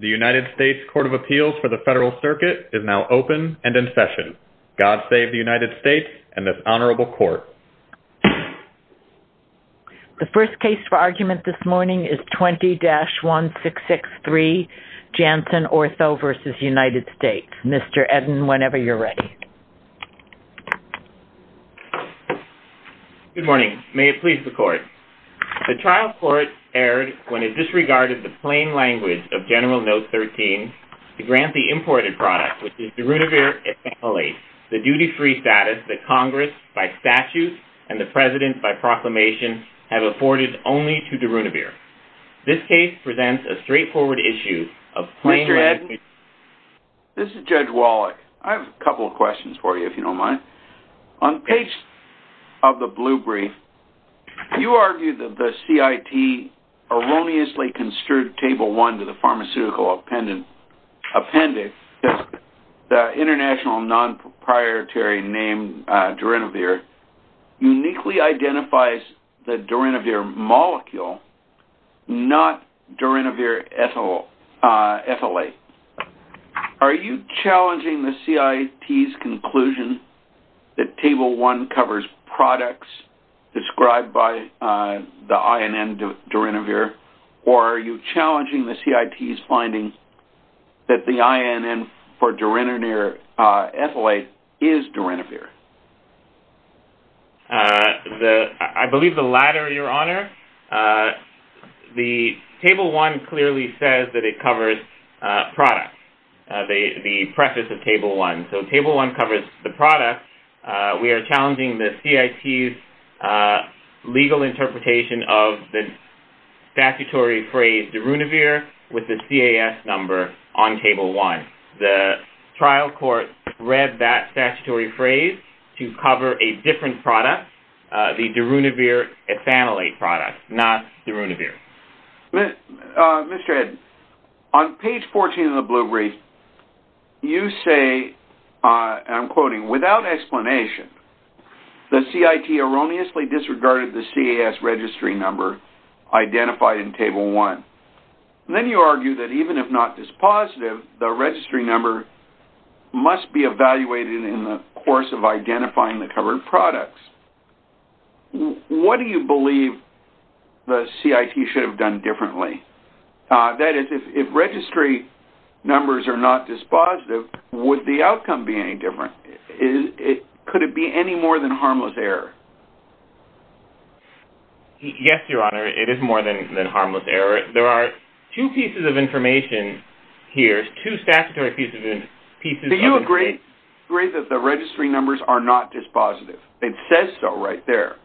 The United States Court of Appeals for the Federal Circuit is now open and in session. God save the United States and this honorable court. The first case for argument this morning is 20-1663 Janssen Ortho v. United States. Mr. Eden, whenever you're ready. Good morning. May it please the court. The trial court erred when it disregarded the plain language of General Note 13 to grant the imported product, which is Darunavir et al., the duty-free status that Congress by statute and the President by proclamation have afforded only to Darunavir. This case presents a straightforward issue of plain language. Mr. Eden, this is Judge Wallach. I have a couple of questions for you, if you don't mind. On page of the blue brief, you argue that the CIT erroneously construed table one to the pharmaceutical appendix, the international non-proprietary named Darunavir, uniquely identifies the Darunavir molecule, not Darunavir ethylate. Are you challenging the CIT's conclusion that table one covers products described by the INN Darunavir, or are you challenging the CIT's finding that the INN for Darunavir ethylate is Darunavir? I believe the latter, Your Honor. The table one clearly says that it covers products, the preface of table one. So table one covers the product. We are challenging the CIT's legal interpretation of the statutory phrase Darunavir with the CAS number on table one. The trial court read that statutory phrase to cover a different product, the Darunavir ethylate product, not Darunavir. Mr. Ed, on page 14 of the blue brief, you say, and I'm quoting, without explanation, the CIT erroneously disregarded the CAS registry number identified in table one. Then you argue that even if not dispositive, the registry number must be evaluated in the course of identifying the covered products. What do you believe the CIT should have done differently? That is, if registry numbers are not dispositive, would the outcome be any different? Could it be any more than harmless error? Yes, Your Honor, it is more than harmless error. There are two pieces of information here, two statutory pieces of information. Do you agree that the registry numbers are not dispositive? It says so right there.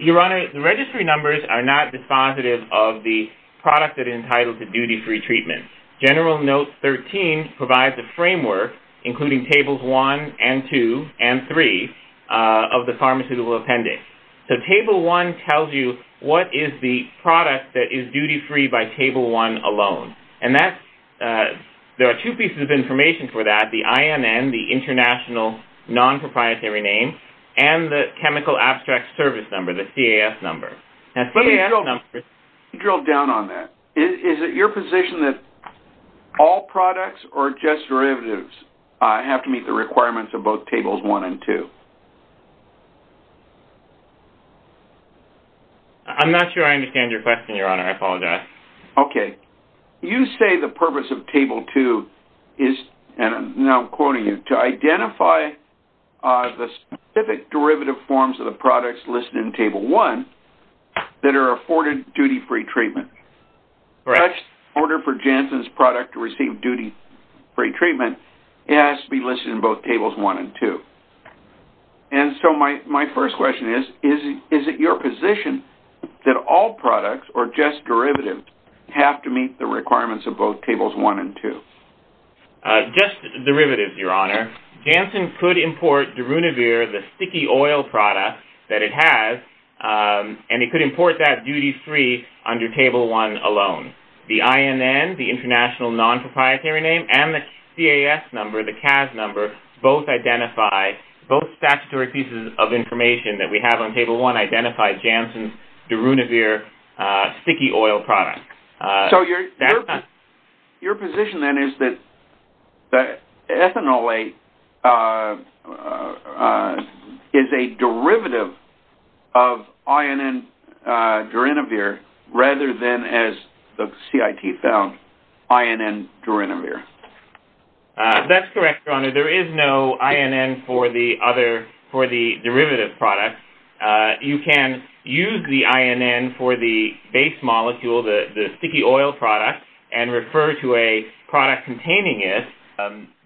Your Honor, the registry numbers are not dispositive of the product that is entitled to duty-free treatment. General Note 13 provides a framework, including tables one and two and three of the pharmaceutical appendix. So table one tells you what is the product that is duty-free by table one alone. There are two pieces of information for that, the INN, the international non-proprietary name, and the chemical abstract service number, the CAS number. Let me drill down on that. Is it your position that all products or just derivatives have to meet the requirements of both tables one and two? I am not sure I understand your question, Your Honor. I apologize. Okay. You say the purpose of table two is, and now I am quoting you, to identify the specific derivative forms of the products listed in table one that are afforded duty-free treatment. Correct. In order for Janssen's product to receive duty-free treatment, it has to be listed in both tables one and two. And so my first question is, is it your position that all products or just derivatives have to meet the requirements of both tables one and two? Just derivatives, Your Honor. Janssen could import Darunavir, the sticky oil product that it has, and it could import that duty-free under table one alone. The INN, the international non-proprietary name, and the CAS number, the CAS number, both identify, both statutory pieces of information that we have on table one identify Janssen's Darunavir sticky oil product. So your position then is that ethanolate is a derivative of INN Darunavir rather than as the CIT found, INN Darunavir. That's correct, Your Honor. There is no INN for the derivative product. You can use the INN for the base molecule, the sticky oil product, and refer to a product containing it.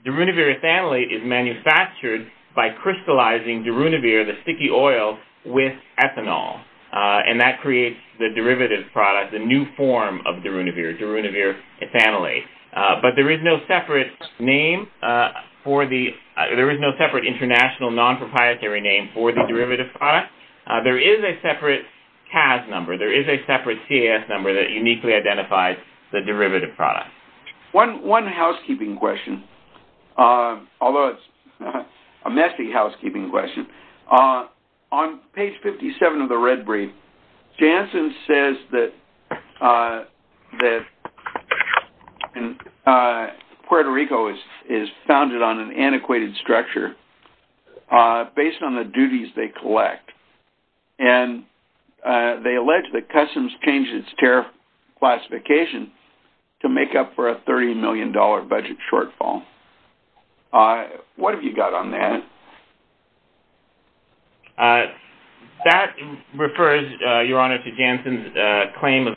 Darunavir ethanolate is manufactured by crystallizing Darunavir, the sticky oil, with ethanol. And that creates the derivative product, the new form of Darunavir, Darunavir ethanolate. But there is no separate international non-proprietary name for the derivative product. There is a separate CAS number. There is a separate CAS number that uniquely identifies the derivative product. One housekeeping question, although it's a messy housekeeping question. On page 57 of the Red Brief, Janssen says that Puerto Rico is founded on an antiquated structure based on the duties they collect. And they allege that Customs changed its tariff classification to make up for a $30 million budget shortfall. What have you got on that? That refers, Your Honor, to Janssen's claim of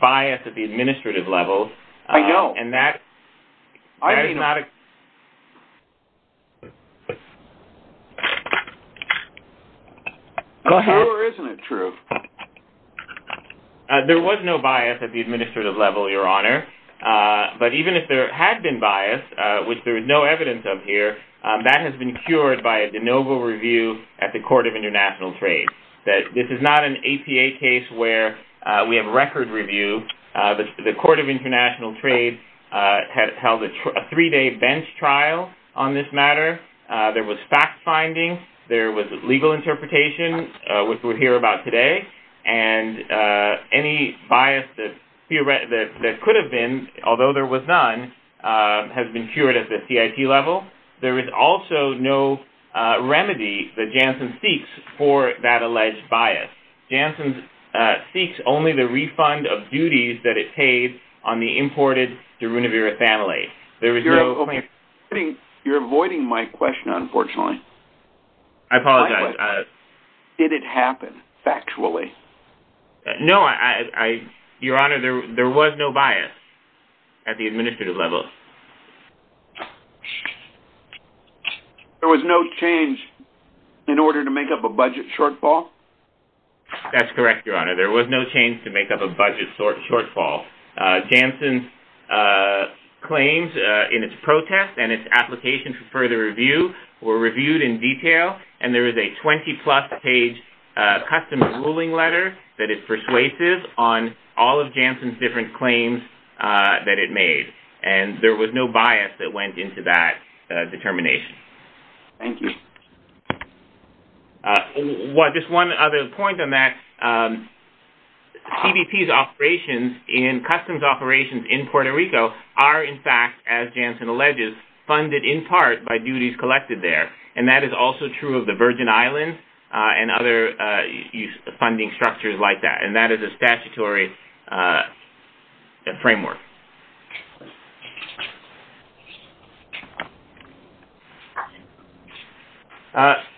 bias at the administrative level. I know. And that is not a... Go ahead. Or isn't it true? There was no bias at the administrative level, Your Honor. But even if there had been bias, which there is no evidence of here, that has been cured by a de novo review at the Court of International Trade. This is not an APA case where we have record review. The Court of International Trade had held a three-day bench trial on this matter. There was fact-finding. There was legal interpretation, which we'll hear about today. And any bias that could have been, although there was none, has been cured at the CIT level. There is also no remedy that Janssen seeks for that alleged bias. Janssen seeks only the refund of duties that it paid on the imported Deruniverethanolate. You're avoiding my question, unfortunately. I apologize. Did it happen, factually? No, Your Honor. There was no bias at the administrative level. There was no change in order to make up a budget shortfall? That's correct, Your Honor. There was no change to make up a budget shortfall. Janssen's claims in its protest and its application for further review were reviewed in detail. And there is a 20-plus page custom ruling letter that is persuasive on all of Janssen's different claims that it made. And there was no bias that went into that determination. Thank you. Just one other point on that. CBP's operations in customs operations in Puerto Rico are, in fact, as Janssen alleges, funded in part by duties collected there. And that is also true of the Virgin Islands and other funding structures like that. And that is a statutory framework.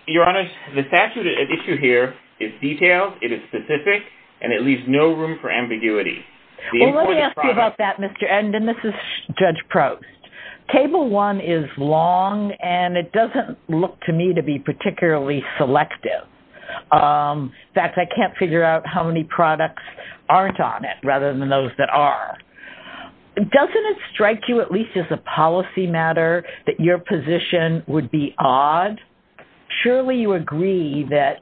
Your Honor, the statute at issue here is detailed, it is specific, and it leaves no room for ambiguity. Well, let me ask you about that, Mr. Endin. This is Judge Prost. Cable one is long, and it doesn't look to me to be particularly selective. In fact, I can't figure out how many products aren't on it rather than those that are. Doesn't it strike you at least as a policy matter that your position would be odd? Surely you agree that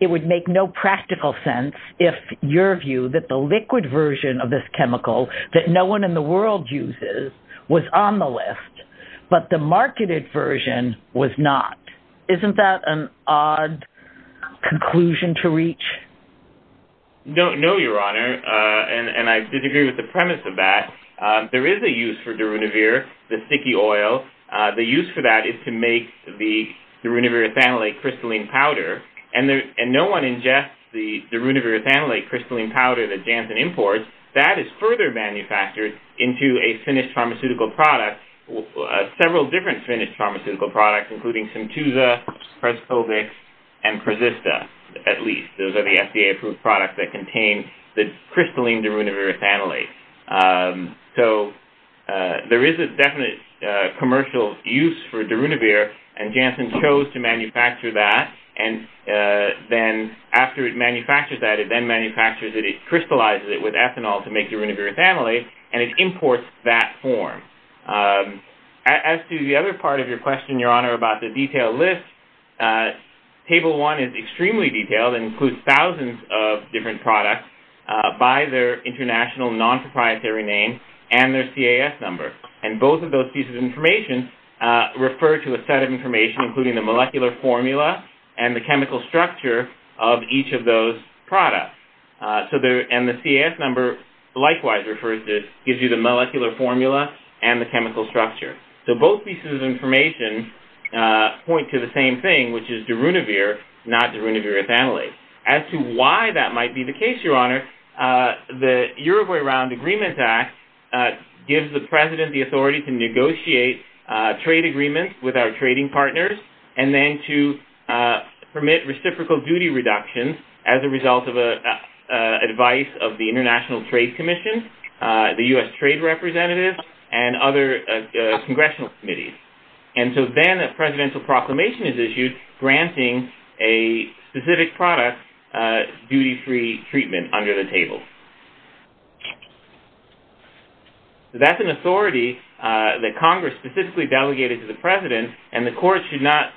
it would make no practical sense if your view that the liquid version of this chemical that no one in the world uses was on the list, but the marketed version was not. Isn't that an odd conclusion to reach? No, Your Honor. And I disagree with the premise of that. There is a use for Darunavir, the sticky oil. The use for that is to make the Darunavir ethanolate crystalline powder. And no one ingests the Darunavir ethanolate crystalline powder that Janssen imports. That is further manufactured into a finished pharmaceutical product, several different finished pharmaceutical products, including Symtusa, Prescovix, and Prezista, at least. Those are the FDA-approved products that contain the crystalline Darunavir ethanolate. So there is a definite commercial use for Darunavir, and Janssen chose to manufacture that. And then after it manufactures that, it crystallizes it with ethanol to make Darunavir ethanolate, and it imports that form. As to the other part of your question, Your Honor, about the detailed list, Table 1 is extremely detailed and includes thousands of different products by their international non-proprietary name and their CAS number. And both of those pieces of information refer to a set of information including the molecular formula and the chemical structure of each of those products. And the CAS number likewise gives you the molecular formula and the chemical structure. So both pieces of information point to the same thing, which is Darunavir, not Darunavir ethanolate. As to why that might be the case, Your Honor, the Uruguay Round Agreements Act gives the President the authority to negotiate trade agreements with our trading partners and then to permit reciprocal duty reductions as a result of advice of the International Trade Commission, the U.S. Trade Representative, and other congressional committees. And so then a presidential proclamation is issued granting a specific product duty-free treatment under the table. That's an authority that Congress specifically delegated to the President and the Court should not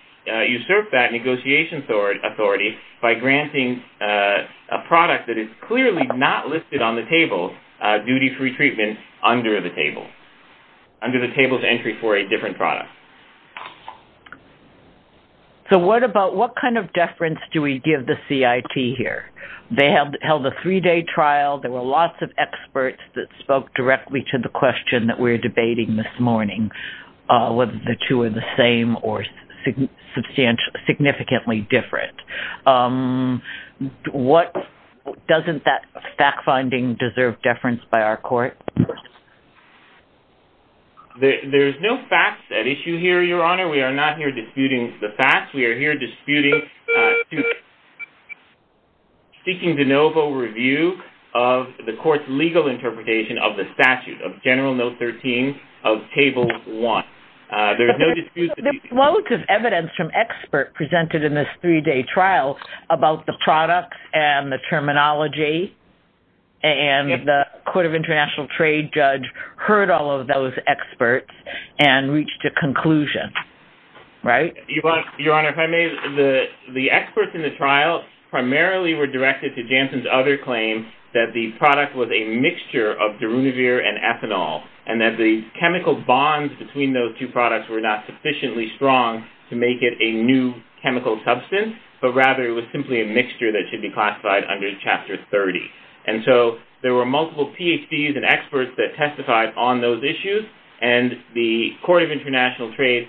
usurp that negotiation authority by granting a product that is clearly not listed on the table duty-free treatment under the table, under the table's entry for a different product. So what about, what kind of deference do we give the CIT here? They held a three-day trial. There were lots of experts that spoke directly to the question that we're debating this morning whether the two are the same or significantly different. Doesn't that fact-finding deserve deference by our Court? There's no facts at issue here, Your Honor. We are not here disputing the facts. We are here disputing seeking de novo review of the Court's legal interpretation of the statute of General Note 13 of Table 1. There's no dispute. There's relative evidence from experts presented in this three-day trial about the product and the terminology and the Court of International Trade judge heard all of those experts and reached a conclusion, right? Your Honor, if I may, the experts in the trial primarily were directed to Jansen's other claim that the product was a mixture of Darunavir and ethanol and that the chemical bonds between those two products were not sufficiently strong to make it a new chemical substance but rather it was simply a mixture that should be classified under Chapter 30. And so there were multiple PhDs and experts that testified on those issues and the Court of International Trade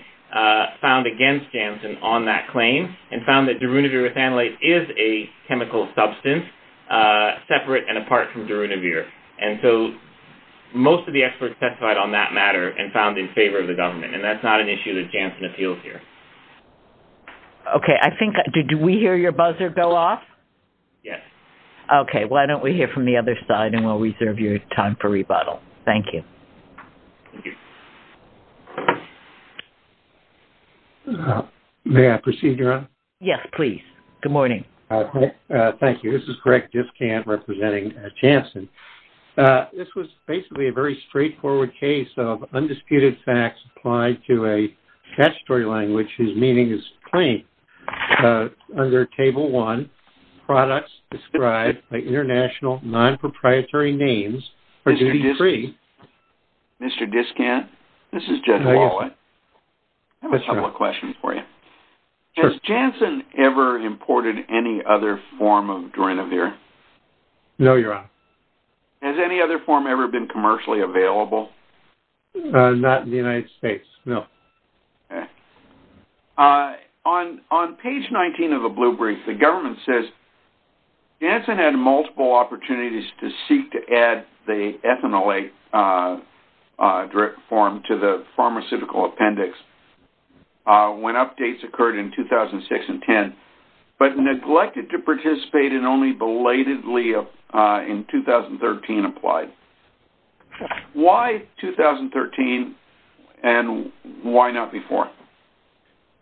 found against Jansen on that claim and found that Darunavir with anilate is a chemical substance separate and apart from Darunavir. And so most of the experts testified on that matter and found in favor of the government and that's not an issue that Jansen appeals here. Okay. Did we hear your buzzer go off? Yes. Okay. Why don't we hear from the other side and we'll reserve your time for rebuttal. Thank you. May I proceed, Your Honor? Yes, please. Good morning. Thank you. This is Greg Diskant representing Jansen. This was basically a very straightforward case of undisputed facts applied to a statutory language whose meaning is plain. Under Table 1, products described by international non-proprietary names are duty-free. Mr. Diskant, this is Jeff Wallet. I have a couple of questions for you. Sure. Has Jansen ever imported any other form of Darunavir? No, Your Honor. Has any other form ever been commercially available? Not in the United States, no. Okay. On page 19 of the blue brief, the government says Jansen had multiple opportunities to seek to add the ethanolate form to the pharmaceutical appendix when updates occurred in 2006 and 2010 but neglected to participate and only belatedly in 2013 applied. Why 2013 and why not before?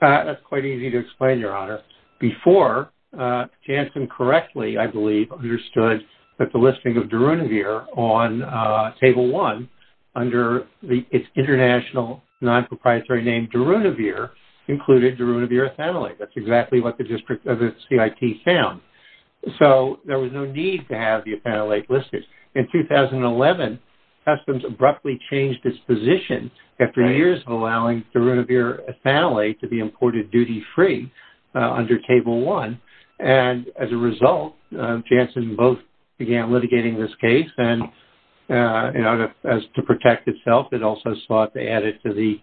That's quite easy to explain, Your Honor. Before, Jansen correctly, I believe, understood that the listing of Darunavir on Table 1 under its international non-proprietary name Darunavir included Darunavir ethanolate. That's exactly what the CIT found. There was no need to have the ethanolate listed. In 2011, customs abruptly changed its position after years of allowing Darunavir ethanolate to be imported duty-free under Table 1. As a result, Jansen both began litigating this case and as to protect itself, it also sought to add it to the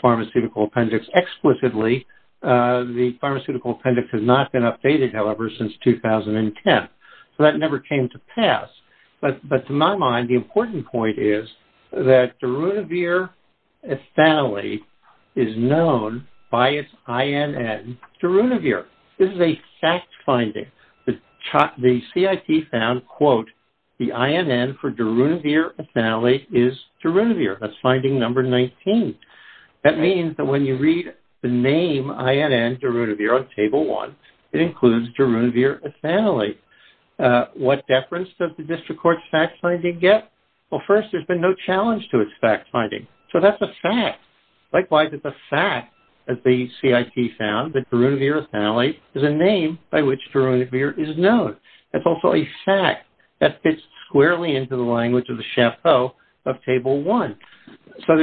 pharmaceutical appendix explicitly. The pharmaceutical appendix has not been updated, however, since 2010. So that never came to pass. But to my mind, the important point is that Darunavir ethanolate is known by its INN Darunavir. This is a fact-finding. The CIT found, the INN for Darunavir ethanolate is Darunavir. That's finding number 19. That means that when you read the name INN Darunavir on Table 1, it includes Darunavir ethanolate. What deference does the District Court's fact-finding get? Well, first, there's been no challenge to its fact-finding. So that's a fact. Likewise, it's a fact that the CIT found that Darunavir ethanolate is a name by which Darunavir is known. That's also a fact that fits squarely into the language of the Chapeau of Table 1. So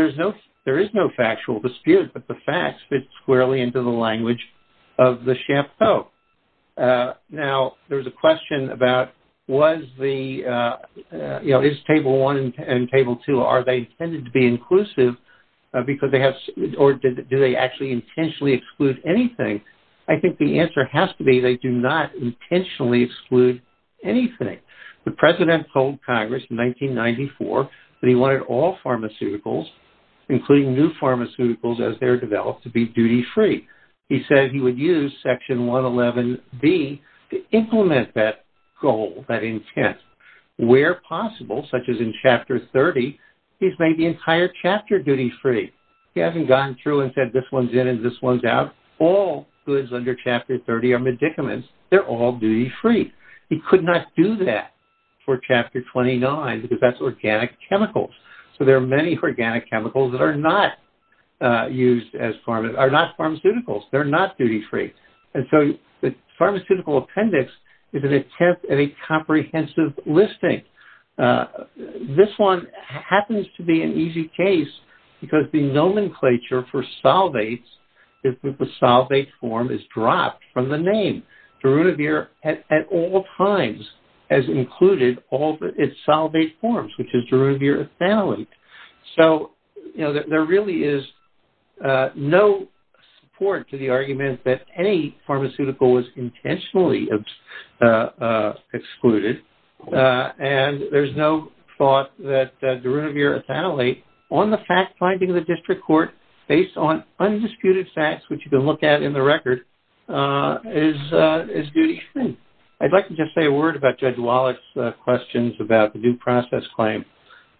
there is no factual dispute, but the facts fit squarely into the language of the Chapeau. Now, there's a question about is Table 1 and Table 2, are they intended to be inclusive or do they actually intentionally exclude anything? I think the answer has to be they do not intentionally exclude anything. The President told Congress in 1994 that he wanted all pharmaceuticals, including new pharmaceuticals as they're developed, to be duty-free. He said he would use Section 111B to implement that goal, that intent. Where possible, such as in Chapter 30, he's made the entire chapter duty-free. He hasn't gone through and said this one's in and this one's out. All goods under Chapter 30 are medicaments. They're all duty-free. He could not do that for Chapter 29 because that's organic chemicals. So there are many organic chemicals that are not used as pharmaceuticals. They're not duty-free. So the pharmaceutical appendix is an attempt at a comprehensive listing. This one happens to be an easy case because the nomenclature for solvates is that the solvate form is dropped from the name. Darunavir at all times has included all its solvate forms, which is Darunavir ethanolate. So there really is no support to the argument that any pharmaceutical was intentionally excluded. And there's no thought that Darunavir ethanolate on the fact-finding of the district court based on undisputed facts, which you can look at in the record, is duty-free. I'd like to just say a word about Judge Wallach's questions about the due process claim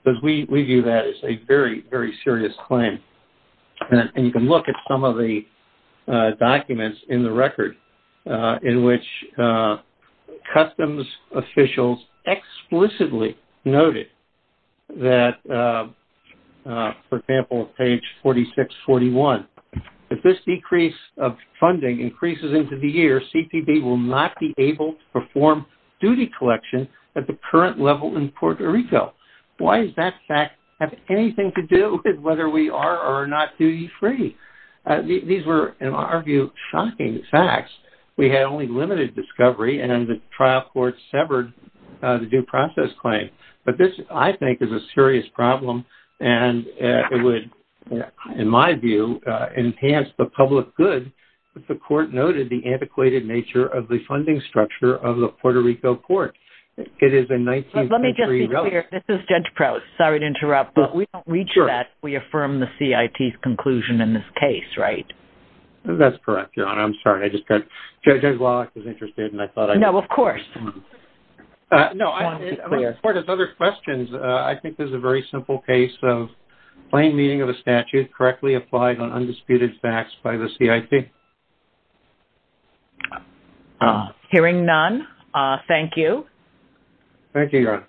because we view that as a very, very serious claim. And you can look at some of the documents in the record in which customs officials explicitly noted that, for example, on page 4641, if this decrease of funding increases into the year, CTD will not be able to perform duty collection at the current level in Puerto Rico. Why does that fact have anything to do with whether we are or are not duty-free? These were, in our view, shocking facts. We had only limited discovery and the trial court severed the due process claim. But this, I think, is a serious problem and it would, in my view, enhance the public good if the court noted the antiquated nature of the funding structure of the Puerto Rico court. Let me just be clear. This is Judge Prout. Sorry to interrupt, but we don't reach that if we affirm the CIT's conclusion in this case, right? That's correct, Your Honor. I'm sorry. Judge Wallach is interested. No, of course. As far as other questions, I think this is a very simple case of plain meaning of a statute correctly applied on undisputed facts by the CIT. Hearing none, thank you. Thank you, Your Honor.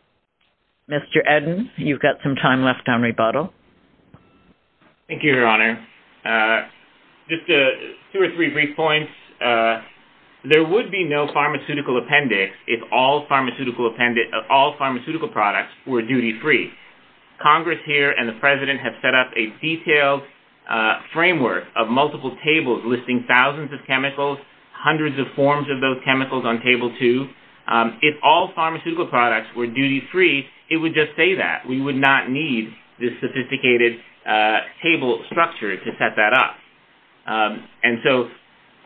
Mr. Eden, you've got some time left on rebuttal. Thank you, Your Honor. Just two or three brief points. There would be no pharmaceutical appendix if all pharmaceutical products were duty-free. Congress here and the President have set up a detailed framework of multiple tables listing thousands of chemicals, hundreds of forms of those chemicals on Table 2. If all pharmaceutical products were duty-free, it would just say that. We would not need this sophisticated table structure to set that up.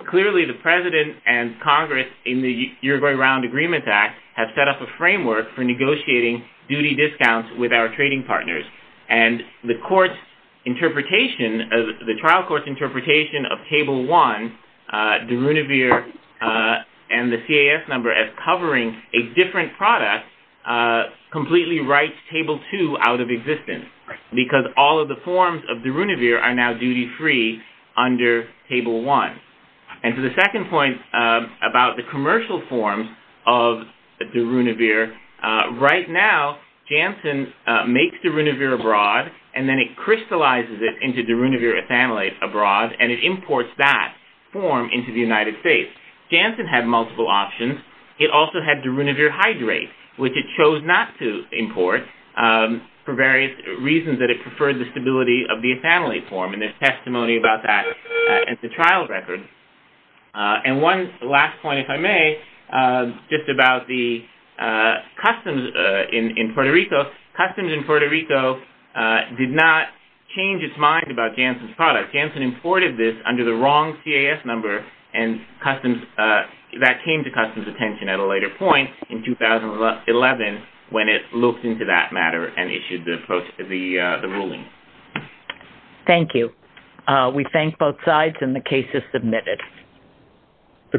Clearly, the President and Congress in the Uruguay Round Agreements Act have set up a framework for negotiating duty discounts with our trading partners. The trial court's interpretation of Table 1, de Runevere and the CAS number as covering a different product, completely writes Table 2 out of existence because all of the forms of de Runevere are now duty-free under Table 1. For the second point about the commercial forms of de Runevere, right now Janssen makes de Runevere abroad and then it crystallizes it into de Runevere ethanolate abroad and it imports that form into the United States. Janssen had multiple options. It also had de Runevere hydrate, which it chose not to import for various reasons that it preferred the stability of the ethanolate form. There's testimony about that at the trial record. One last point, if I may, just about the customs in Puerto Rico. Customs in Puerto Rico did not change its mind about Janssen's product. Janssen imported this under the wrong CAS number and that came to customs' attention at a later point in 2011 when it looked into that matter and issued the ruling. Thank you. We thank both sides and the case is submitted.